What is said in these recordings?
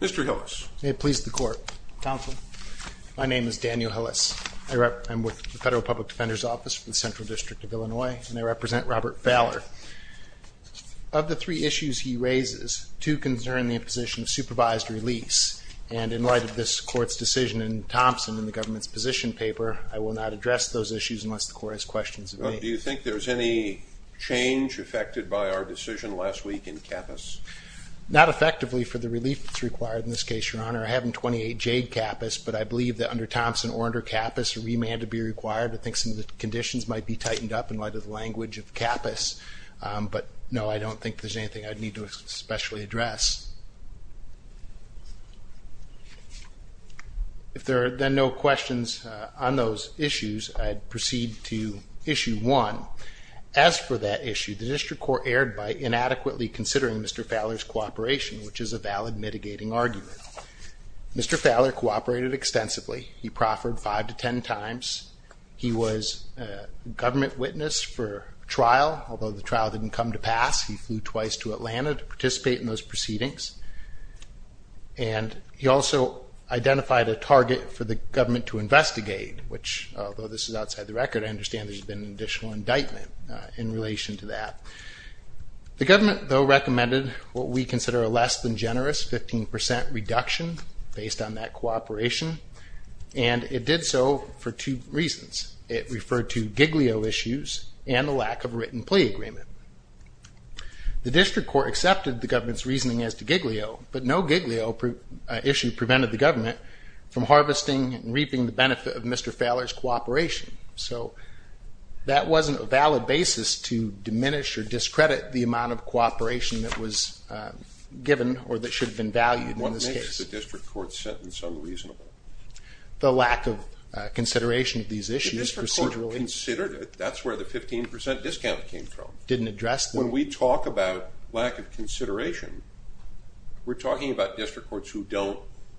Mr. Hillis, may it please the court. Counsel, my name is Daniel Hillis. I'm with the Federal Public Defender's Office for the Central District of Illinois, and I represent Robert Falor. Of the three issues he raises, two concern the imposition of supervised release, and in light of this court's decision in Thompson in the government's position paper, I will not address those issues unless the court has questions of me. Do you think there's any change affected by our decision last week in CAPPUS? Not effectively for the relief that's required in this case, Your Honor. I have in 28 Jade CAPPUS, but I believe that under Thompson or under CAPPUS, a remand would be required. I think some of the conditions might be tightened up in light of the language of CAPPUS, but no, I don't think there's anything I'd need to especially address. If there are then no questions on those issues, I'd proceed to issue one. As for that issue, the district court erred by inadequately considering Mr. Falor's cooperation, which is a valid mitigating argument. Mr. Falor cooperated extensively. He proffered five to ten times. He was a government witness for trial, although the trial didn't come to pass. He flew twice to Atlanta to participate in those proceedings, and he also identified a target for the government to investigate, which, although this is outside the record, I understand there's been an additional indictment in relation to that. The government, though, recommended what we consider a less than generous 15% reduction based on that cooperation, and it did so for two reasons. It referred to Giglio issues and the lack of a written plea agreement. The district court accepted the government's reasoning as to Giglio, but no Giglio issue prevented the government from harvesting and reaping the benefit of Mr. Falor's cooperation. So that wasn't a valid basis to diminish or discredit the amount of cooperation that was given or that should have been valued in this case. The lack of consideration of these issues procedurally didn't address them. When we talk about lack of consideration, we're talking about district courts who don't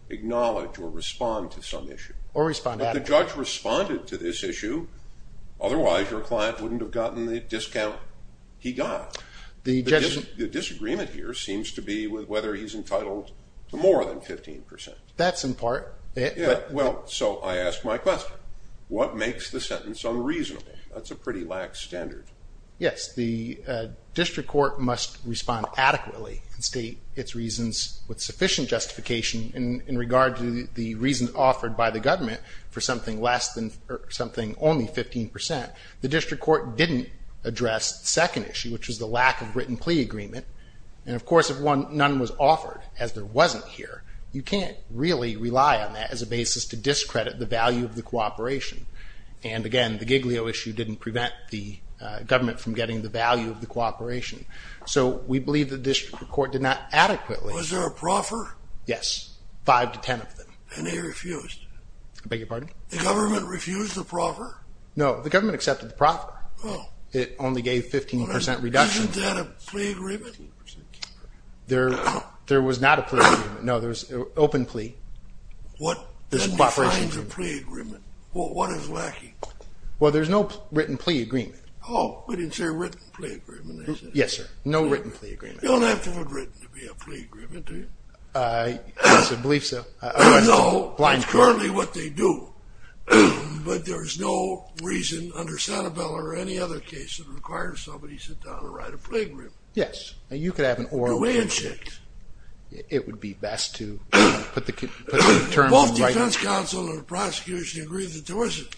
acknowledge or respond to some issue. But the judge responded to this issue. Otherwise, your client wouldn't have gotten the discount he got. The disagreement here seems to be whether he's entitled to more than 15%. That's in part. Well, so I ask my question. What makes the sentence unreasonable? That's a pretty lax standard. Yes, the district court must respond adequately and state its reasons with sufficient justification in regard to the reasons offered by the government for something only 15%. The district court didn't address the second issue, which was the lack of written plea agreement. And of course, if none was offered, as there wasn't here, you can't really rely on that as a basis to discredit the value of the cooperation. And again, the Giglio issue didn't prevent the government from getting the value of the cooperation. So we believe the district court did not adequately. Was there a proffer? Yes, five to 10 of them. And they refused? I beg your pardon? The government refused the proffer? No, the government accepted the proffer. Oh. It only gave 15% reduction. Wasn't that a plea agreement? There was not a plea agreement. No, there was open plea. What defines a plea agreement? What is lacking? Well, there's no written plea agreement. Oh, we didn't say written plea agreement, did we? Yes, sir. No written plea agreement. You don't have to have written to be a plea agreement, do you? I believe so. I don't know. It's currently what they do. But there's no reason under Sanibel or any other case that requires somebody to sit down and write a plea agreement. Yes, and you could have an oral agreement. It would be best to put the terms in writing. Both defense counsel and the prosecution agreed that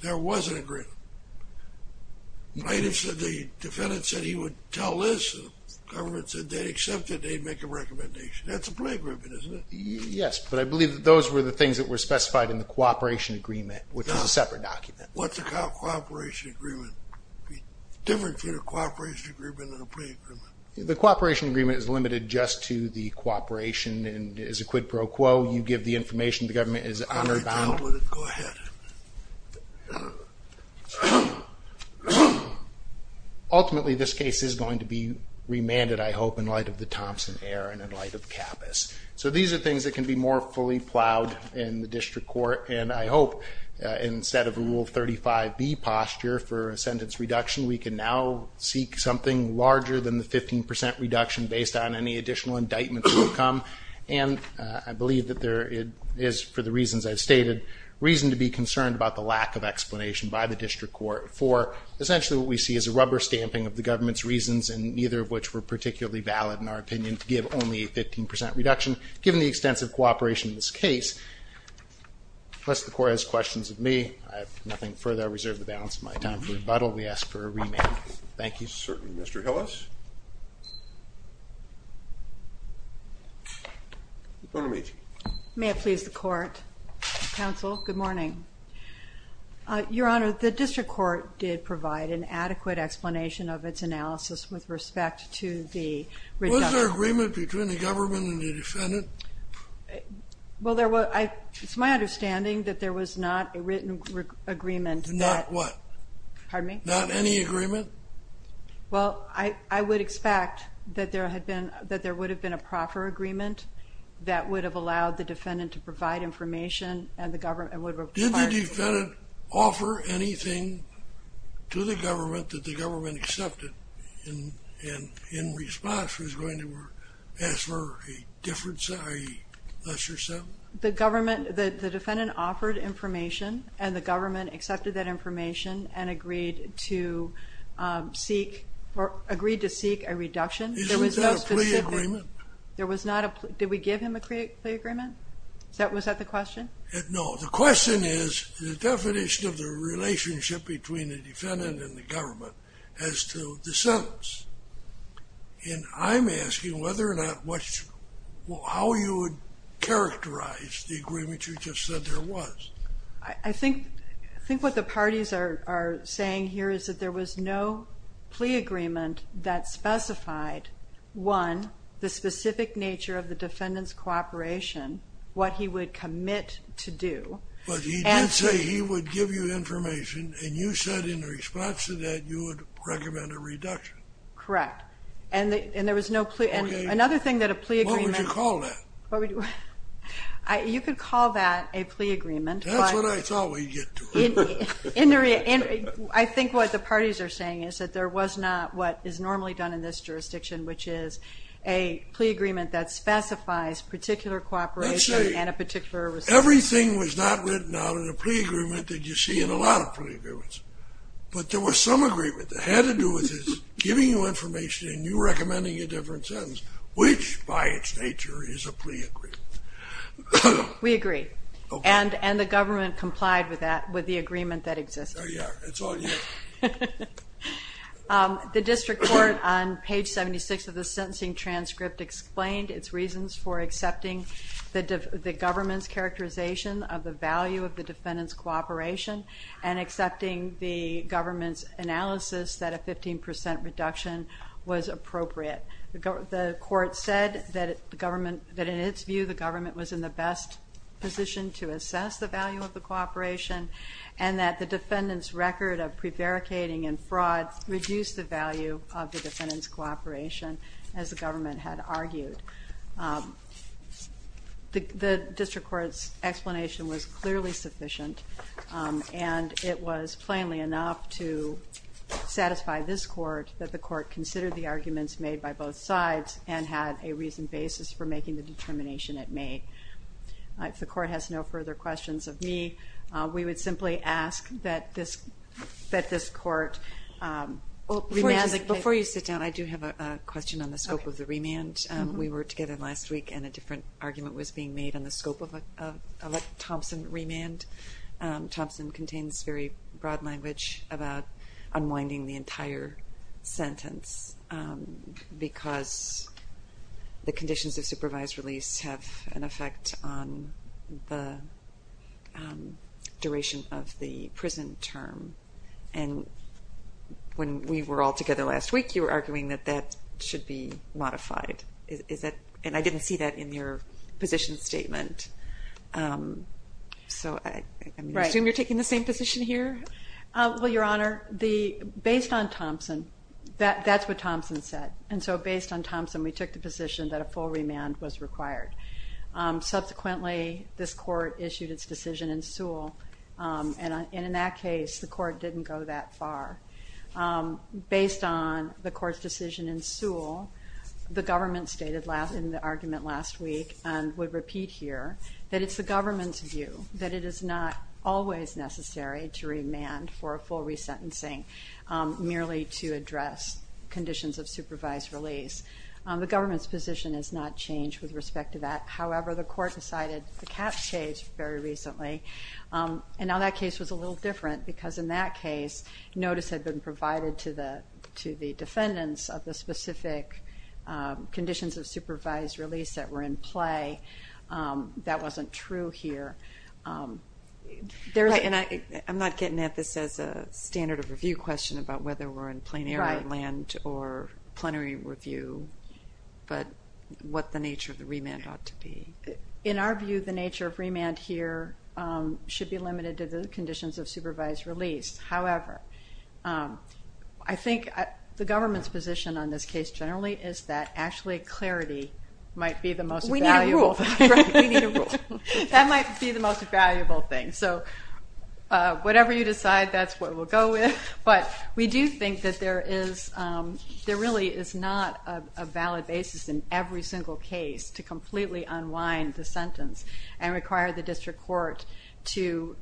there was an agreement. The defendant said he would tell this. The government said they'd accept it. They'd make a recommendation. That's a plea agreement, isn't it? Yes, but I believe that those were the things that were specified in the cooperation agreement, which is a separate document. What's a cooperation agreement? It would be different to the cooperation agreement than a plea agreement. The cooperation agreement is limited just to the cooperation and is a quid pro quo. You give the information, the government is honor bound. All right, go ahead. Ultimately, this case is going to be remanded, I hope, in light of the Thompson error and in light of Kappus. So these are things that can be more fully plowed in the district court, and I hope instead of Rule 35B posture for a sentence reduction, we can now seek something larger than the 15 percent reduction based on any additional indictments that come. And I believe that there is, for the reasons I've stated, reason to be concerned about the lack of explanation by the district court for essentially what we see is a rubber stamping of the government's reasons, and neither of which were particularly valid in our opinion to give only a 15 percent reduction, given the extensive cooperation in this case. Unless the court has questions of me, I have nothing further. I reserve the balance of my time for rebuttal. We ask for a remand. Thank you. Certainly. Mr. Hillis? May I please the court? Counsel, good morning. Your Honor, the district court did provide an adequate explanation of its analysis with respect to the reduction. Was there agreement between the government and the defendant? Well, it's my understanding that there was not a written agreement. Not what? Pardon me? Not any agreement? Well, I would expect that there would have been a proper agreement that would have allowed the defendant to provide information Did the defendant offer anything to the government that the government accepted and in response was going to ask for a difference, a lesser settlement? The defendant offered information, and the government accepted that information and agreed to seek a reduction. Is there a plea agreement? Did we give him a plea agreement? Was that the question? No. The question is the definition of the relationship between the defendant and the government as to the sentence. And I'm asking whether or not, how you would characterize the agreement you just said there was. I think what the parties are saying here is that there was no plea agreement that specified, one, the specific nature of the defendant's cooperation, what he would commit to do. But he did say he would give you information, and you said in response to that you would recommend a reduction. Correct. And there was no plea. Another thing that a plea agreement What would you call that? You could call that a plea agreement. That's what I thought we'd get to. I think what the parties are saying is that there was not what is normally done in this jurisdiction, which is a plea agreement that specifies particular cooperation and a particular response. Everything was not written out in a plea agreement that you see in a lot of plea agreements. But there was some agreement that had to do with his giving you information and you recommending a different sentence, which by its nature is a plea agreement. We agree. Okay. And the government complied with that, with the agreement that existed. There you are. It's on you. The district court, on page 76 of the sentencing transcript, explained its reasons for accepting the government's characterization of the value of the defendant's cooperation and accepting the government's analysis that a 15% reduction was appropriate. The court said that in its view, the government was in the best position to assess the value of the cooperation and that the defendant's record of prevaricating and fraud reduced the value of the defendant's cooperation, as the government had argued. The district court's explanation was clearly sufficient, and it was plainly enough to satisfy this court that the court considered the arguments made by both sides and had a reasoned basis for making the determination it made. If the court has no further questions of me, we would simply ask that this court remand the case. Before you sit down, I do have a question on the scope of the remand. We were together last week, and a different argument was being made on the scope of a Thompson remand. Thompson contains very broad language about unwinding the entire sentence because the conditions of supervised release have an effect on the duration of the prison term. When we were all together last week, you were arguing that that should be modified, and I didn't see that in your position statement. So I assume you're taking the same position here? Well, Your Honor, based on Thompson, that's what Thompson said. And so based on Thompson, we took the position that a full remand was required. Subsequently, this court issued its decision in Sewell, and in that case the court didn't go that far. Based on the court's decision in Sewell, the government stated in the argument last week and would repeat here that it's the government's view that it is not always necessary to remand for a full resentencing merely to address conditions of supervised release. The government's position has not changed with respect to that. However, the court decided the cap changed very recently, and now that case was a little different because in that case notice had been provided to the defendants of the specific conditions of supervised release that were in play. That wasn't true here. I'm not getting at this as a standard of review question about whether we're in plenary land or plenary review, but what the nature of the remand ought to be. In our view, the nature of remand here should be limited to the conditions of supervised release. However, I think the government's position on this case generally is that actually clarity might be the most valuable. We need a rule. That might be the most valuable thing. So whatever you decide, that's what we'll go with. But we do think that there really is not a valid basis in every single case to completely unwind the sentence and require the district court to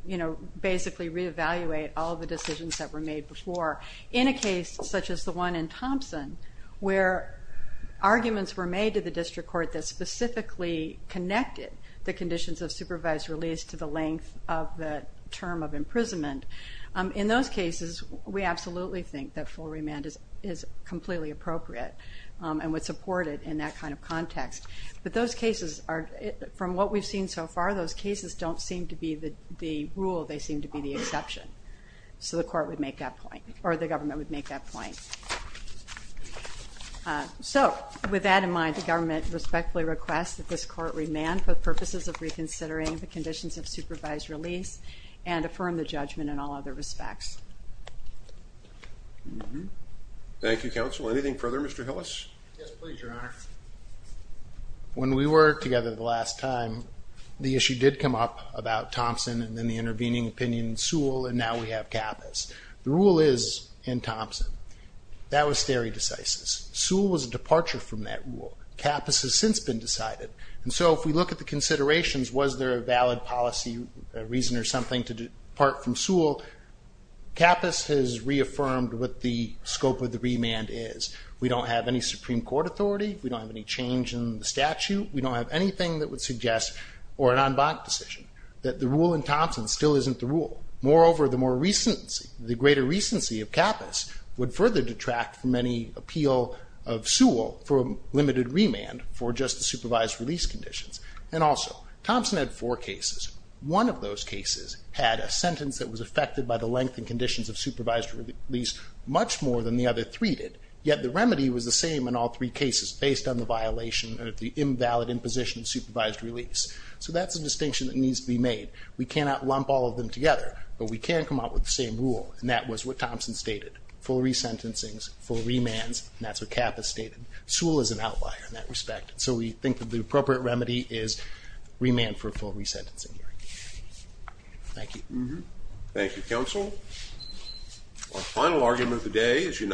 basically reevaluate all the decisions that were made before. In a case such as the one in Thompson where arguments were made to the district court that specifically connected the conditions of supervised release to the length of the term of imprisonment, in those cases we absolutely think that full remand is completely appropriate and would support it in that kind of context. But those cases are, from what we've seen so far, those cases don't seem to be the rule. They seem to be the exception. So the court would make that point, or the government would make that point. So with that in mind, the government respectfully requests that this court remand for purposes of reconsidering the conditions of supervised release and affirm the judgment in all other respects. Thank you, Counsel. Anything further? Mr. Hillis? Yes, please, Your Honor. When we were together the last time, the issue did come up about Thompson and then the intervening opinion in Sewell, and now we have Kappas. The rule is in Thompson. That was stare decisis. Sewell was a departure from that rule. Kappas has since been decided. And so if we look at the considerations, was there a valid policy reason or something to depart from Sewell, Kappas has reaffirmed what the scope of the remand is. We don't have any Supreme Court authority. We don't have any change in the statute. We don't have anything that would suggest, or an en banc decision, that the rule in Thompson still isn't the rule. Moreover, the greater recency of Kappas would further detract from any appeal of Sewell for a limited remand for just the supervised release conditions. And also, Thompson had four cases. One of those cases had a sentence that was affected by the length and conditions of supervised release much more than the other three did, yet the remedy was the same in all three cases based on the violation or the invalid imposition of supervised release. So that's a distinction that needs to be made. We cannot lump all of them together, but we can come up with the same rule, and that was what Thompson stated, full resentencings, full remands, and that's what Kappas stated. Sewell is an outlier in that respect, so we think that the appropriate remedy is remand for full resentencing. Thank you. Thank you, counsel. Our final argument of the day is united.